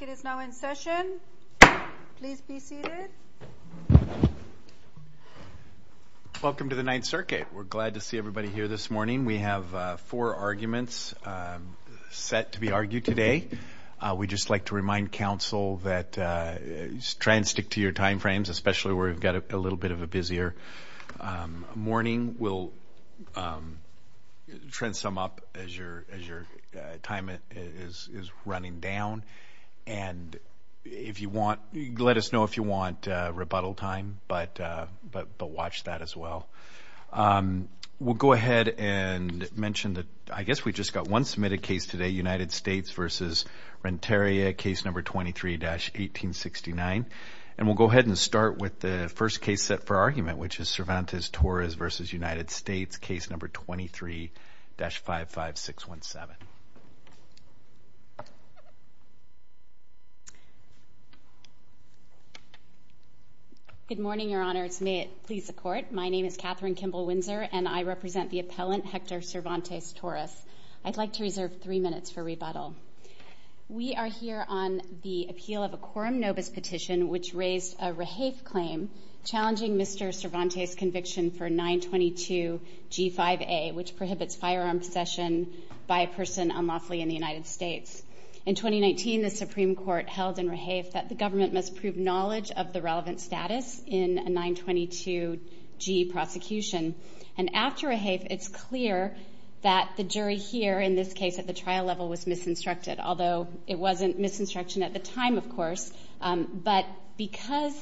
is now in session. Please be seated. Welcome to the Ninth Circuit. We're glad to see everybody here this morning. We have four arguments set to be argued today. We'd just like to remind Council to try and stick to your time frames, especially where we've got a little bit of a busier morning. We'll try and sum up as your time is running down. Let us know if you want rebuttal time, but watch that as well. We'll go ahead and mention, I guess we just got one submitted case today, United States v. Renteria, case number 23-1869. We'll go ahead and start with the first case set for argument, which is Cervantes-Torres v. United States, case number 23-55617. Good morning, Your Honors. May it please the Court. My name is Katherine Kimball Windsor, and I represent the appellant, Hector Cervantes-Torres. I'd like to reserve three minutes for rebuttal. We are here on the appeal of a quorum nobis petition, which raised a rehafe claim challenging Mr. Cervantes' conviction for 922-G5A, which prohibits firearm possession by a person unlawfully in the United States. In 2019, the Supreme Court held in rehafe that the government must prove knowledge of the relevant status in a 922-G prosecution. And after rehafe, it's clear that the jury here in this case at the level was misinstructed, although it wasn't misinstruction at the time, of course. But because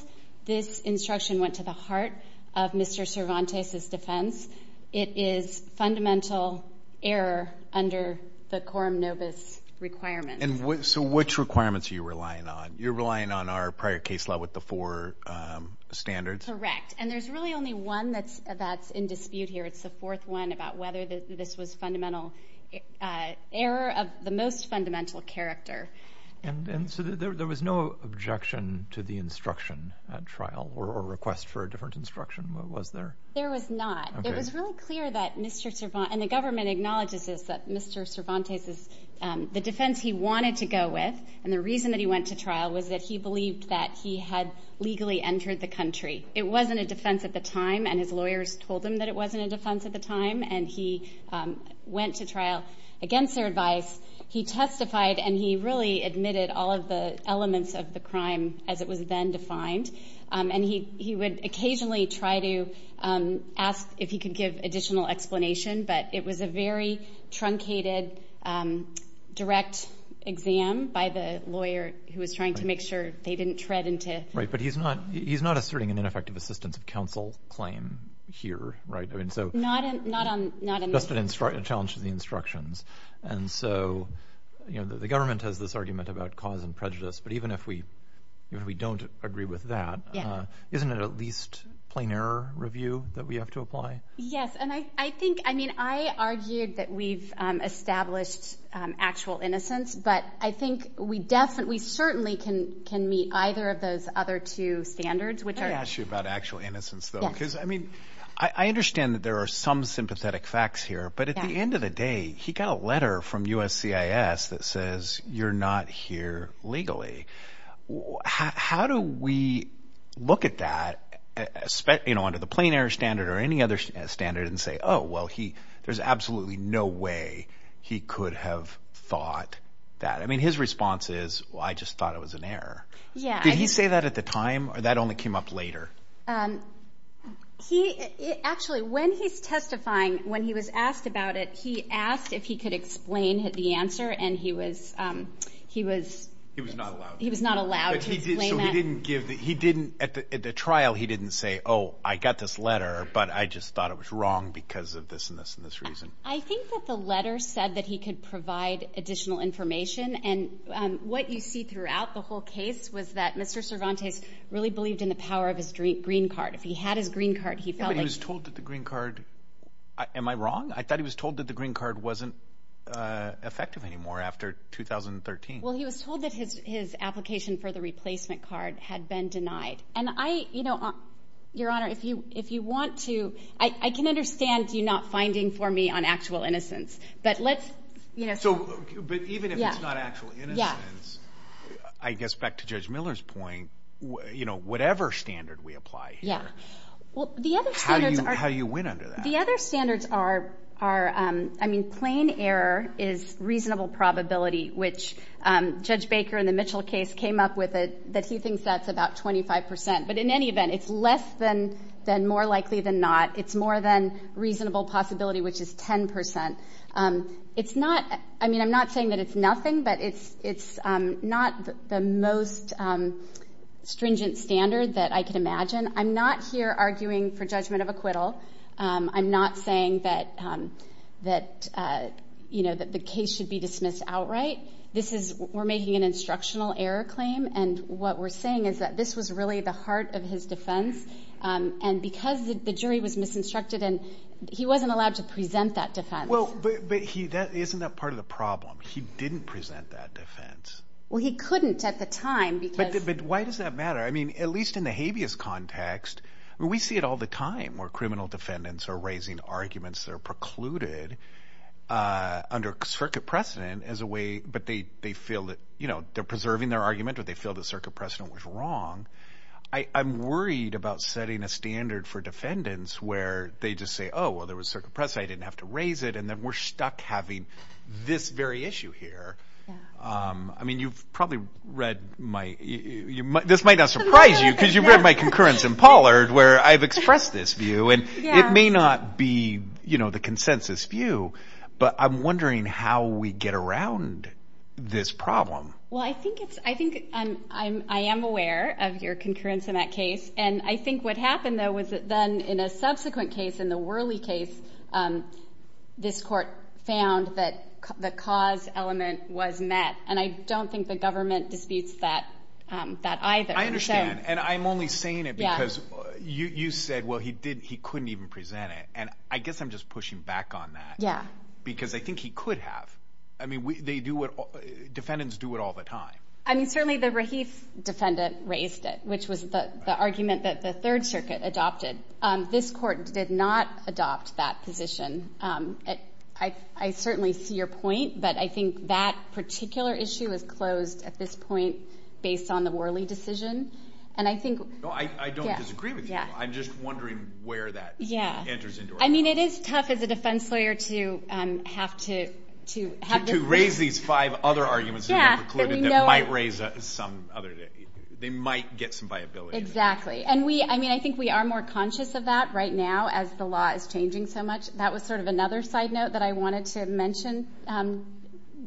this instruction went to the heart of Mr. Cervantes' defense, it is fundamental error under the quorum nobis requirement. And so which requirements are you relying on? You're relying on our prior case law with the four standards? Correct. And there's really only one that's in dispute here. It's the fourth one about whether this was fundamental error of the most fundamental character. And so there was no objection to the instruction at trial or request for a different instruction, was there? There was not. It was really clear that Mr. Cervantes, and the government acknowledges this, that Mr. Cervantes, the defense he wanted to go with, and the reason that he went to trial was that he believed that he had legally entered the country. It wasn't a defense at the time, and his lawyers told him that it wasn't a defense at the time, and he went to trial against their advice. He testified, and he really admitted all of the elements of the crime as it was then defined. And he would occasionally try to ask if he could give additional explanation, but it was a very truncated direct exam by the lawyer who was trying to make sure they didn't tread into... Right, but he's not asserting an ineffective assistance of counsel claim here, right? I mean, so... Not on... Just a challenge to the instructions. And so, you know, the government has this argument about cause and prejudice, but even if we don't agree with that, isn't it at least plain error review that we have to apply? Yes, and I think, I mean, I argued that we've established actual innocence, but I think we definitely certainly can meet either of those other two standards, which are... Can I ask you about actual innocence, though? Because, I mean, I understand that there are some sympathetic facts here, but at the end of the day, he got a letter from USCIS that says, you're not here legally. How do we look at that, you know, under the plain error standard or any other standard and say, oh, well, there's absolutely no way he could have thought that? I mean, his response is, well, I just thought it was an error. Yeah. Did he say that at the time or that only came up later? He... Actually, when he's testifying, when he was asked about it, he asked if he could explain the answer, and he was... He was not allowed. He was not allowed to explain that. So he didn't give the... He didn't... At the trial, he didn't say, oh, I got this letter, but I just thought it was wrong because of this and this and this reason. I think that the letter said that he could provide additional information, and what you see throughout the whole case was that Mr. Cervantes really believed in the power of his green card. If he had his green card, he felt like... He was told that the green card... Am I wrong? I thought he was told that the green card wasn't effective anymore after 2013. Well, he was told that his application for the replacement card had been denied, and I, you know, Your Honor, if you want to... I can understand you not finding for me on actual innocence, but let's, you know... So, but even if it's not actual innocence, I guess back to Judge Miller's point, you know, whatever standard we apply here... Yeah. Well, the other standards are... How do you win under that? The other standards are, I mean, plain error is reasonable probability, which Judge Baker in the Mitchell case came up with it that he thinks that's about 25%, but in any event, it's less than more likely than not. It's more than reasonable possibility, which is 10%. It's not... I mean, I'm not saying that it's nothing, but it's not the most stringent standard that I can imagine. I'm not here arguing for judgment of acquittal. I'm not saying that, you know, that the case should be dismissed outright. This is... We're making an instructional error claim, and what we're saying is that this was really the heart of his defense, and because the jury was misinstructed, and he wasn't allowed to present that defense. Well, but he... Isn't that part of the problem? He didn't present that defense. Well, he couldn't at the time because... But why does that matter? I mean, at least in the habeas context, we see it all the time where criminal defendants are raising arguments that are but they feel that, you know, they're preserving their argument, or they feel the circuit precedent was wrong. I'm worried about setting a standard for defendants where they just say, oh, well, there was circuit precedent. I didn't have to raise it, and then we're stuck having this very issue here. I mean, you've probably read my... This might not surprise you because you've read my concurrence in Pollard where I've expressed this view, and it may not be, you know, the consensus view, but I'm wondering how we get around this problem. Well, I think it's... I think I'm... I am aware of your concurrence in that case, and I think what happened, though, was that then in a subsequent case, in the Worley case, this court found that the cause element was met, and I don't think the government disputes that either. I understand, and I'm only saying it because you said, well, he didn't... He couldn't even present it, and I guess I'm just pushing back on that. Yeah. Because I think he could have. I mean, they do what... Defendants do it all the time. I mean, certainly the Rahif defendant raised it, which was the argument that the Third Circuit adopted. This court did not adopt that position. I certainly see your point, but I think that particular issue is closed at this point based on the Worley decision, and I think... No, I don't disagree with you. Yeah. I'm just wondering where that... Yeah. ...enters into our... I mean, it is tough as a defense lawyer to have to... To raise these five other arguments that were precluded that might raise some other... They might get some viability. Exactly, and we... I mean, I think we are more conscious of that right now as the law is changing so much. That was sort of another side note that I wanted to mention,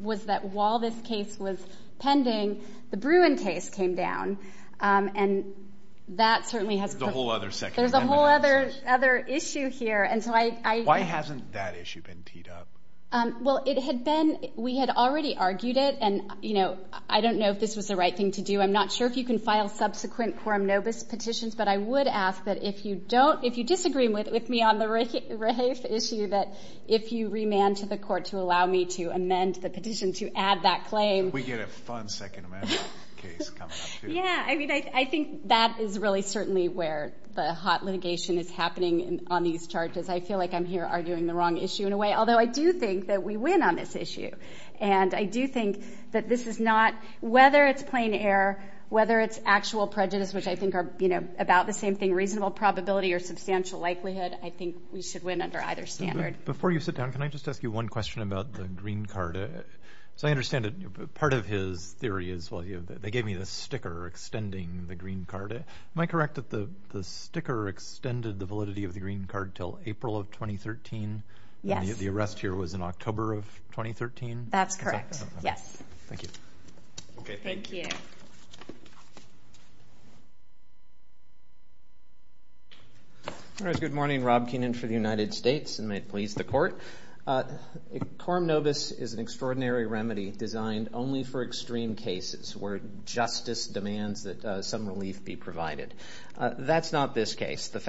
was that while this case was pending, the Bruin case came down, and that certainly has... There's a whole other... There's a whole other issue here, and so I... Why hasn't that issue been teed up? Well, it had been... We had already argued it, and I don't know if this was the right thing to do. I'm not sure if you can file subsequent quorum nobis petitions, but I would ask that if you don't... If you disagree with me on the Rafe issue, that if you remand to the court to allow me to amend the petition to add that claim... We get a fun Second Amendment case coming up, too. Yeah. I mean, I think that is really certainly where the hot litigation is happening on these charges. I feel like I'm here arguing the wrong issue in a way, although I do think that we win on this issue, and I do think that this is not... Whether it's plain air, whether it's actual prejudice, which I think are about the same thing, reasonable probability or substantial likelihood, I think we should win under either standard. Before you sit down, can I just ask you one question about the green card? So I understand that part of his theory is... Well, they gave me this sticker extending the green card. Am I correct that the sticker extended the validity of the green card till April of 2013? Yes. And the arrest here was in October of 2013? That's correct. Yes. Thank you. Thank you. Good morning. Rob Keenan for the United States, and may it please the court. Coram nobis is an extraordinary remedy designed only for extreme cases where justice demands that some relief be provided. That's not this case. The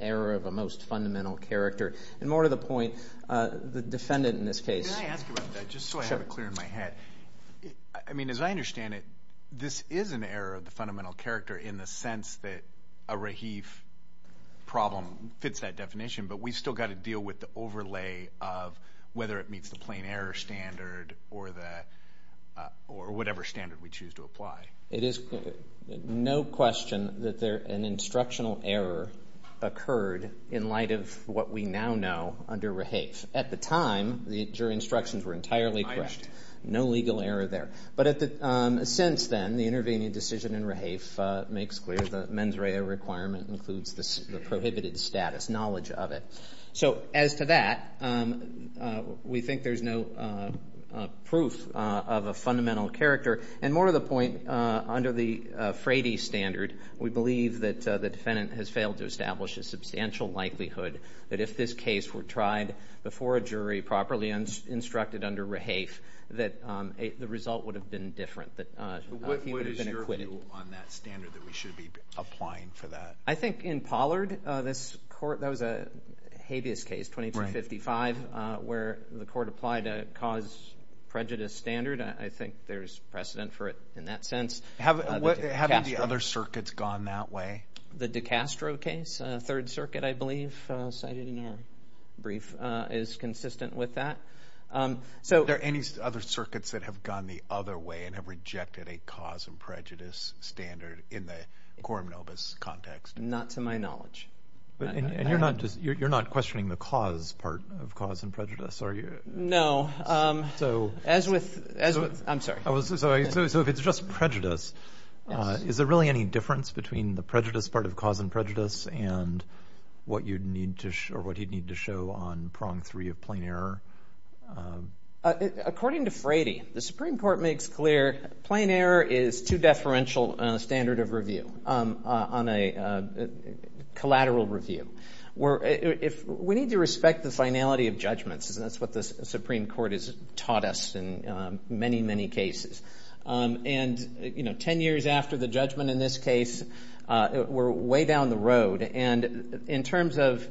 error of a most fundamental character, and more to the point, the defendant in this case... Can I ask you about that, just so I have it clear in my head? I mean, as I understand it, this is an error of the fundamental character in the sense that a Rahif problem fits that definition, but we've still got to deal with the overlay of whether it meets the plain error standard or whatever standard we choose to apply. It is no question that an instructional error occurred in light of what we now know under Rahif. At the time, your instructions were entirely correct. No legal error there. But since then, the intervening decision in Rahif makes clear the mens rea requirement includes the prohibited status, knowledge of it. So as to that, we think there's no proof of a fundamental character. And more to the point, under the Frady standard, we believe that the defendant has failed to establish a substantial likelihood that if this case were tried before a jury properly and instructed under Rahif, that the result would have been different. What is your view on that standard that we should be applying for that? I think in Pollard, that was a habeas case, 2255, where the court applied a cause prejudice standard. I think there's precedent for it in that sense. Have the other circuits gone that way? The DiCastro case, 3rd Circuit, I believe, cited in your brief, is consistent with that. Are there any other circuits that have gone the other way and have rejected a cause and prejudice standard in the Coram Novus context? Not to my knowledge. And you're not questioning the cause part of cause and prejudice, are you? No. I'm sorry. So if it's just prejudice, is there really any difference between the prejudice part of cause and prejudice and what you'd need to show or what he'd need to show on prong three of plain error? According to Frady, the Supreme Court makes clear plain error is too deferential on a standard of review, on a collateral review. We need to respect the finality of judgments. That's what the Supreme Court has taught us in many, many cases. And, you know, 10 years after the judgment in this case, we're way down the road. And in terms of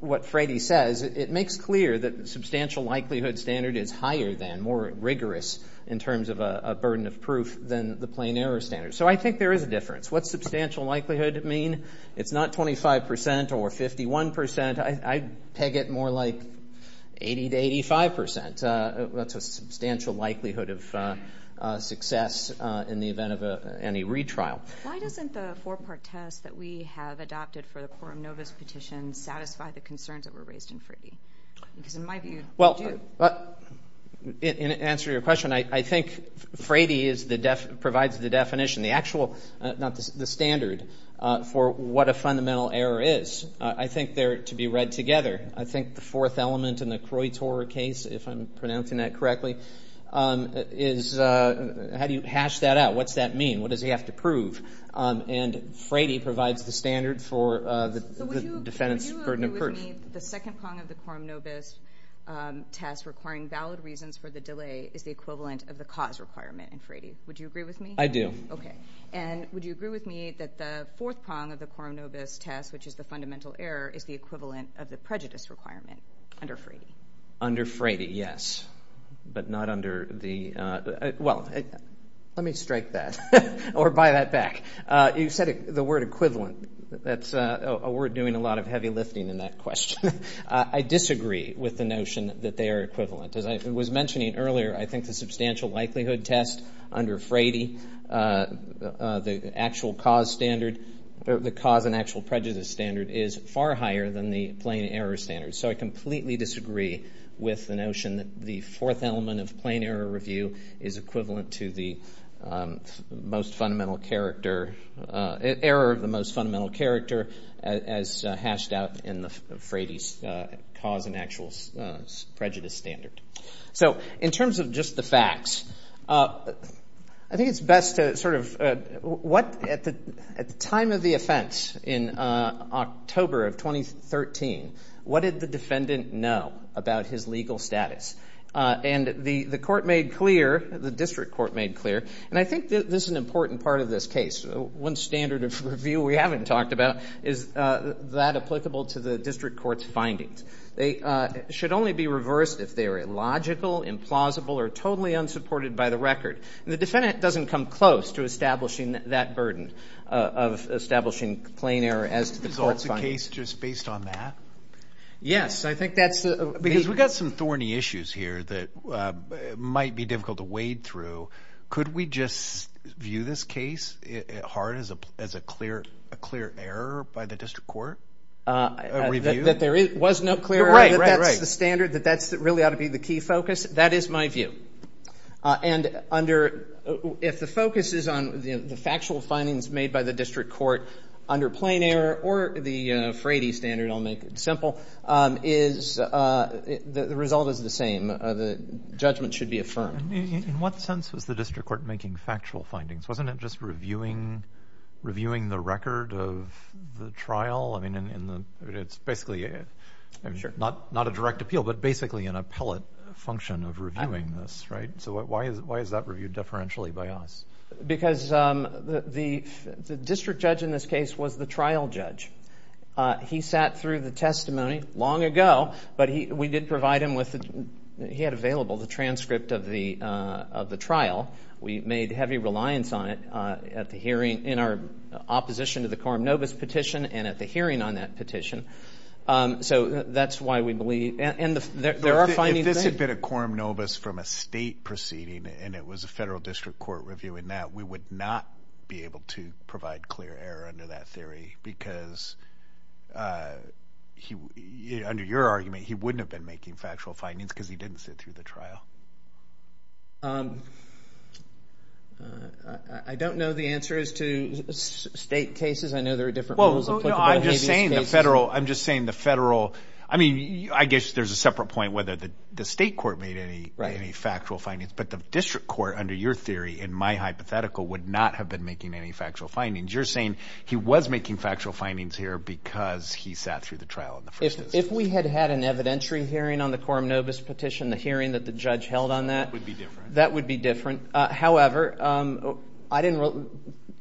what Frady says, it makes clear that the substantial likelihood standard is higher than, more rigorous in terms of a burden of proof than the plain error standard. So I think there is a difference. What's substantial likelihood mean? It's not 25 percent or 51 percent. I'd peg it more like 80 to 85 percent. That's a substantial likelihood of success in the event of any retrial. Why doesn't the four-part test that we have adopted for the Quorum Novus petition satisfy the concerns that were raised in Frady? Because in my view, they do. Well, in answer to your question, I think Frady provides the definition, the actual, not the standard, for what a fundamental error is. I think they're to be read together. I think the fourth element in the Kroitor case, if I'm pronouncing that correctly, is how do you hash that out? What's that mean? What does he have to prove? And Frady provides the standard for the defendant's burden of proof. So would you agree with me that the second prong of the Quorum Novus test requiring valid reasons for the delay is the equivalent of the cause requirement in Frady? Would you agree with me? I do. Okay. And would you agree with me that the fourth prong of the Quorum Novus test, which is the fundamental error, is the equivalent of the prejudice requirement under Frady? Under Frady, yes. But not under the... Well, let me strike that or buy that back. You said the word equivalent. That's a word doing a lot of heavy lifting in that question. I disagree with the notion that they are equivalent. As I was mentioning earlier, I think the substantial likelihood test under Frady, the actual cause standard, the cause and actual prejudice standard is far higher than the plain error standard. So I completely disagree with the notion that the fourth element of plain error review is equivalent to the most fundamental character, error of the most fundamental character, as hashed out in Frady's cause and actual prejudice standard. So in terms of just the facts, I think it's best to sort of... At the time of the offense in October of 2013, what did the defendant know about his legal status? And the court made clear, the district court made clear, and I think this is an important part of this case. One standard of review we haven't talked about is that applicable to the district court's findings. They should only be reversed if they are illogical, implausible, or totally unsupported by the record. The defendant doesn't come close to establishing that burden of establishing plain error as to the court's findings. Is the case just based on that? Yes, I think that's the... Because we've got some thorny issues here that might be difficult to wade through. Could we just view this case at heart as a clear error by the district court, a review? That there was no clear error, that that's the standard, that that's really ought to be the key focus? That is my view. And if the focus is on the factual findings made by the district court under plain error, or the Frady standard, I'll make it simple, the result is the same. The judgment should be affirmed. In what sense was the district court making factual findings? Wasn't it just reviewing the record of the trial? I mean, it's basically not a direct appeal, but basically an appellate function of reviewing this, right? So why is that reviewed deferentially by us? Because the district judge in this case was the trial judge. He sat through the testimony long ago, but we did provide him with... He had available the transcript of the trial. We made heavy reliance on it at the hearing in our opposition to the quorum novus petition and at the hearing on that petition. So that's why we believe... And there are findings... If this had been a quorum novus from a state proceeding, and it was a federal district court reviewing that, we would not be able to provide clear error under that theory, because under your argument, he wouldn't have been making factual findings because he didn't sit through the trial. I don't know the answer as to state cases. I know there are different rules applicable to habeas cases. I'm just saying the federal... I mean, I guess there's a separate point whether the state court made any factual findings, but the district court, under your theory, in my hypothetical, would not have been making any factual findings. You're saying he was making factual findings here because he sat through the trial in the first instance. If we had had an evidentiary hearing on the quorum novus petition, the hearing that the judge held on that, that would be different. However, I didn't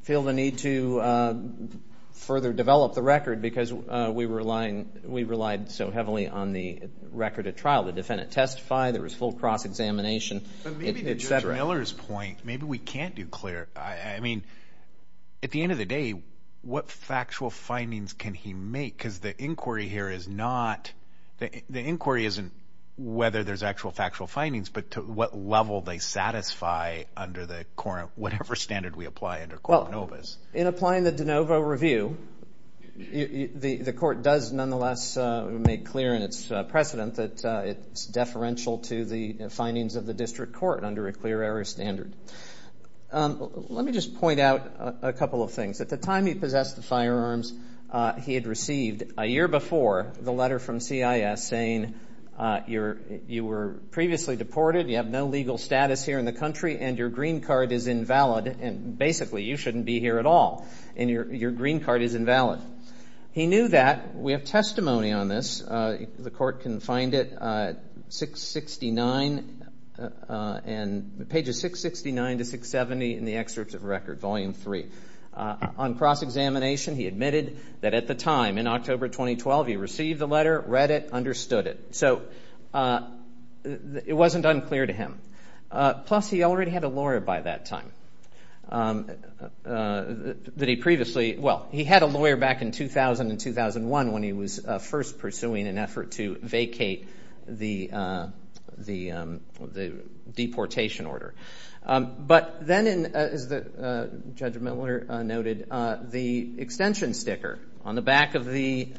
feel the need to further develop the record because we relied so heavily on the record of trial. The defendant testified, there was full cross-examination. But maybe to Judge Miller's point, maybe we can't do clear... I mean, at the end of the day, what factual findings can he make? Because the inquiry here is not... The inquiry isn't whether there's actual factual findings, but to what level they satisfy under the quorum, whatever standard we apply under quorum novus. In applying the de novo review, the court does nonetheless make clear in its precedent that it's deferential to the findings of the district court under a clear error standard. Let me just point out a couple of things. At the time he possessed the firearms, he had received a year before the letter from CIS saying you were previously deported, you have no legal status here in the country, and your green card is invalid, and basically you shouldn't be here at all. And your green card is invalid. He knew that. We have testimony on this. The court can find it, page 669 to 670 in the excerpts of record, volume three. On cross-examination, he admitted that at the time, in October 2012, he received the letter, read it, understood it. So it wasn't unclear to him. Plus, he already had a lawyer by that time, that he previously... Well, he had a lawyer back in 2000 and 2001 when he was first pursuing an effort to vacate the deportation order. But then, as Judge Miller noted, the extension sticker on the back of the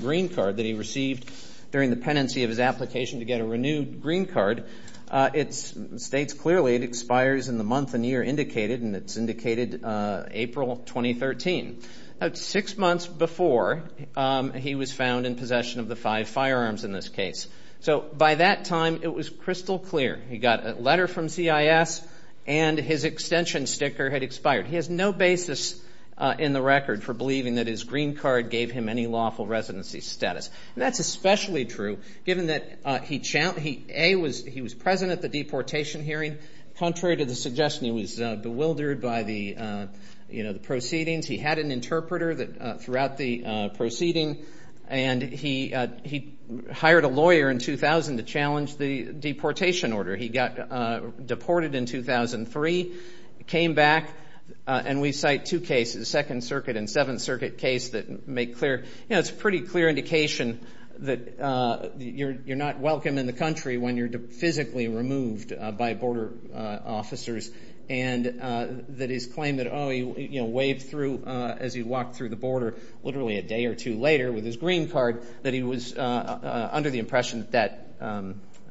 green card that he received during the penancy of his application to get a renewed green card, it states clearly it expires in the month and year indicated, and it's indicated April 2013. That's six months before he was found in possession of the five firearms in this case. So by that time, it was crystal clear. He got a letter from CIS, and his extension sticker had expired. He has no basis in the record for believing that his green card gave him any lawful residency status. And that's especially true given that A, he was present at the deportation hearing. Contrary to the suggestion, he was bewildered by the proceedings. He had an interpreter throughout the proceeding, and he hired a lawyer in 2000 to challenge the deportation order. He got deported in 2003, came back, and we cite two cases, Second Circuit and Seventh Circuit case that make clear... You know, it's a pretty clear indication that you're not welcome in the country when you're physically removed by border officers. And that his claim that, oh, he, you know, waved through as he walked through the border literally a day or two later with his green card, that he was under the impression that that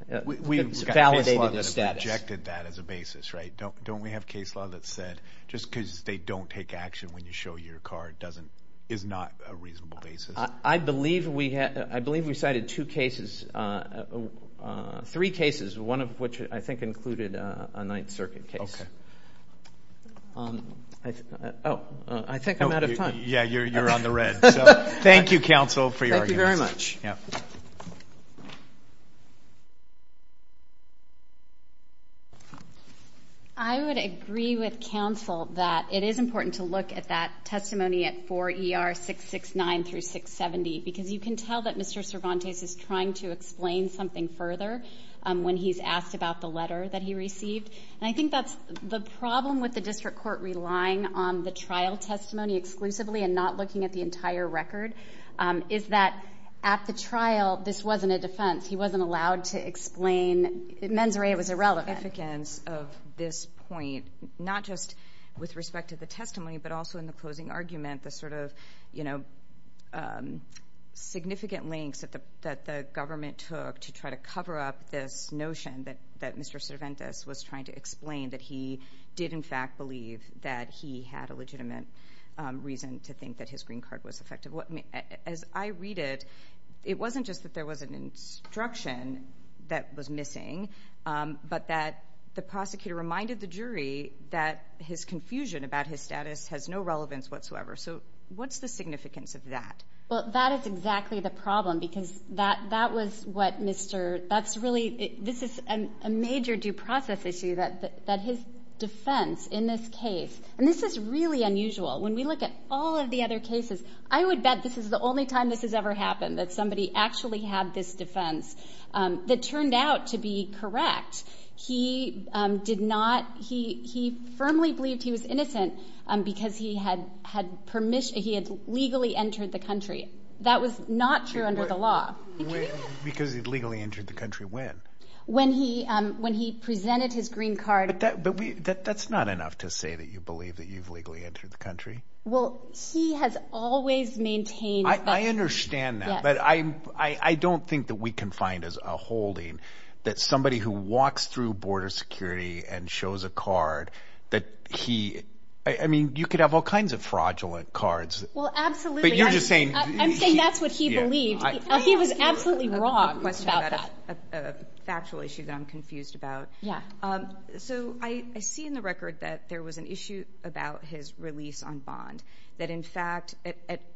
validated his status. We've got case law that has rejected that as a basis, right? Don't we have case law that said just because they don't take action when you show your card doesn't, is not a reasonable basis? I believe we had, I believe we cited two cases, three cases, one of which I think included a Ninth Circuit case. Oh, I think I'm out of time. Yeah, you're on the red. So thank you, counsel, for your arguments. Thank you very much. Yeah. I would agree with counsel that it is important to look at that testimony at 4 ER 669 through 670, because you can tell that Mr. Cervantes is trying to explain something further when he's asked about the letter that he received. And I think that's the problem with the district court relying on the trial testimony exclusively and not looking at the entire record, is that at the trial, this wasn't a defense. He wasn't allowed to explain, mens rea was irrelevant. The significance of this point, not just with respect to the testimony, but also in the closing argument, the sort of, you know, significant lengths that the government took to try to cover up this notion that Mr. Cervantes was trying to explain that he did, in fact, believe that he had a legitimate reason to think that his green card was effective. As I read it, it wasn't just that there was an instruction that was missing, but that the prosecutor reminded the jury that his confusion about his status has no relevance whatsoever. So what's the significance of that? Well, that is exactly the problem, because that was what Mr. That's really, this is a major due process issue, that his defense in this case, and this is really unusual, when we look at all of the other cases, I would bet this is the only time this has ever happened, that somebody actually had this defense that turned out to be correct. He did not, he firmly believed he was innocent because he had permission, he had legally entered the country. That was not true under the law. Because he'd legally entered the country when? When he presented his green card. But that's not enough to say that you believe that you've legally entered the country. Well, he has always maintained that. I understand that, but I don't think that we can find a holding that somebody who walks through border security and shows a card that he, I mean, you could have all kinds of fraudulent cards. Well, absolutely. But you're just saying. I'm saying that's what he believed. He was absolutely wrong about that. Factual issue that I'm confused about. Yeah. So I see in the record that there was an issue about his release on bond, that in fact,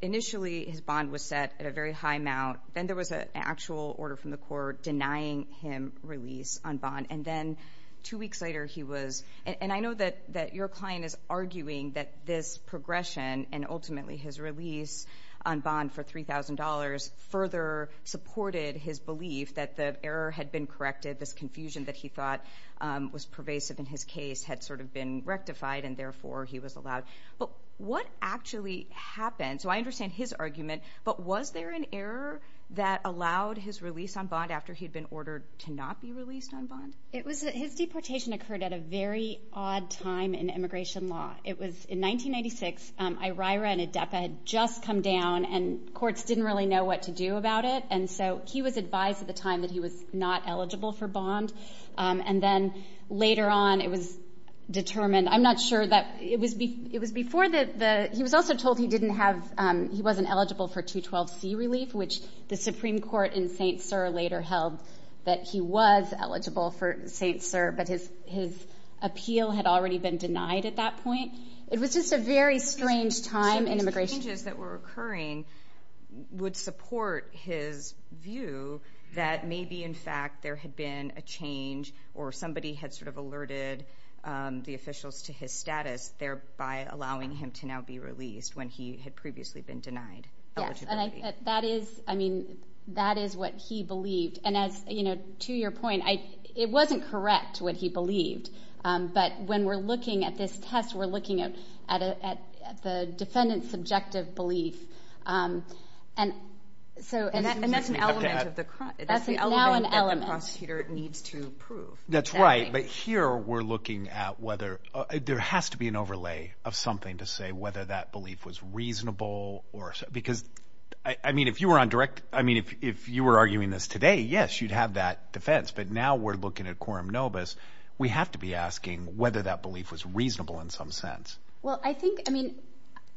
initially his bond was set at a very high amount. Then there was an actual order from the court denying him release on bond. And then two weeks later, he was, and I know that your client is arguing that this progression and ultimately his release on bond for $3,000 further supported his belief that the error had been corrected. This confusion that he thought was pervasive in his case had sort of been rectified and therefore he was allowed. But what actually happened? So I understand his argument. But was there an error that allowed his release on bond after he'd been ordered to not be released on bond? It was, his deportation occurred at a very odd time in immigration law. It was in 1996, IRIRA and ADEPA had just come down and courts didn't really know what to do about it. And so he was advised at the time that he was not eligible for bond. And then later on, it was determined, I'm not sure that, it was before the, he was also told he didn't have, he wasn't eligible for 212C relief, which the Supreme Court in St. Cyr later held that he was eligible for St. Cyr, but his appeal had already been denied at that point. It was just a very strange time in immigration. So these changes that were occurring would support his view that maybe in fact there had been a change or somebody had sort of alerted the officials to his status thereby allowing him to now be released when he had previously been denied eligibility. Yes, and that is, I mean, that is what he believed. And as, you know, to your point, it wasn't correct what he believed, but when we're looking at this test, we're looking at the defendant's subjective belief. And so- And that's an element of the- That's now an element. That the prosecutor needs to prove. That's right, but here we're looking at whether, there has to be an overlay of something to say whether that belief was reasonable or, because, I mean, if you were on direct, I mean, if you were arguing this today, yes, you'd have that defense, but now we're looking at quorum nobis, we have to be asking whether that belief was reasonable in some sense. Well, I think, I mean,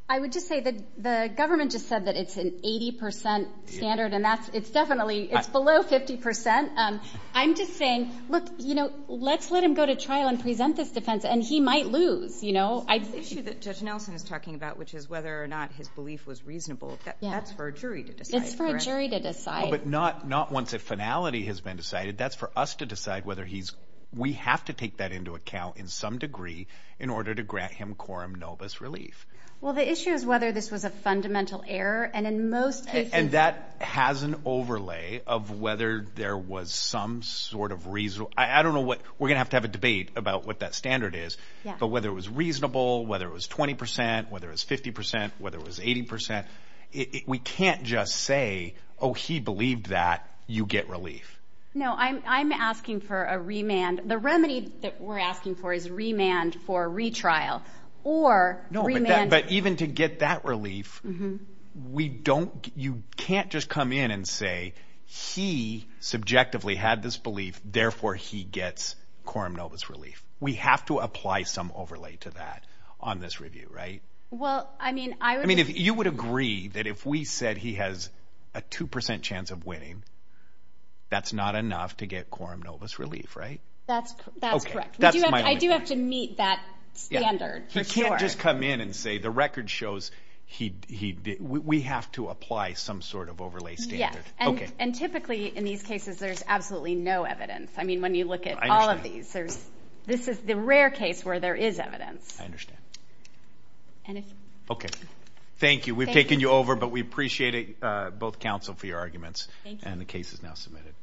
I would just say that the government just said that it's an 80% standard and that's, it's definitely, it's below 50%. I'm just saying, look, you know, let's let him go to trial and present this defense and he might lose, you know? I think- The issue that Judge Nelson is talking about, which is whether or not his belief was reasonable, that's for a jury to decide, correct? But not once a finality has been decided, that's for us to decide whether he's, we have to take that into account in some degree in order to grant him quorum nobis relief. Well, the issue is whether this was a fundamental error and in most cases- And that has an overlay of whether there was some sort of reason, I don't know what, we're gonna have to have a debate about what that standard is, but whether it was reasonable, whether it was 20%, whether it was 50%, whether it was 80%, we can't just say, oh, he believed that, you get relief. No, I'm asking for a remand. The remedy that we're asking for is remand for retrial or remand- No, but even to get that relief, we don't, you can't just come in and say, he subjectively had this belief, therefore he gets quorum nobis relief. We have to apply some overlay to that on this review, right? Well, I mean, I would- That if we said he has a 2% chance of winning, that's not enough to get quorum nobis relief, right? That's correct. I do have to meet that standard, for sure. He can't just come in and say, the record shows we have to apply some sort of overlay standard. And typically in these cases, there's absolutely no evidence. I mean, when you look at all of these, this is the rare case where there is evidence. I understand. Okay, thank you. We've taken you over, but we appreciate both counsel for your arguments. And the case is now submitted.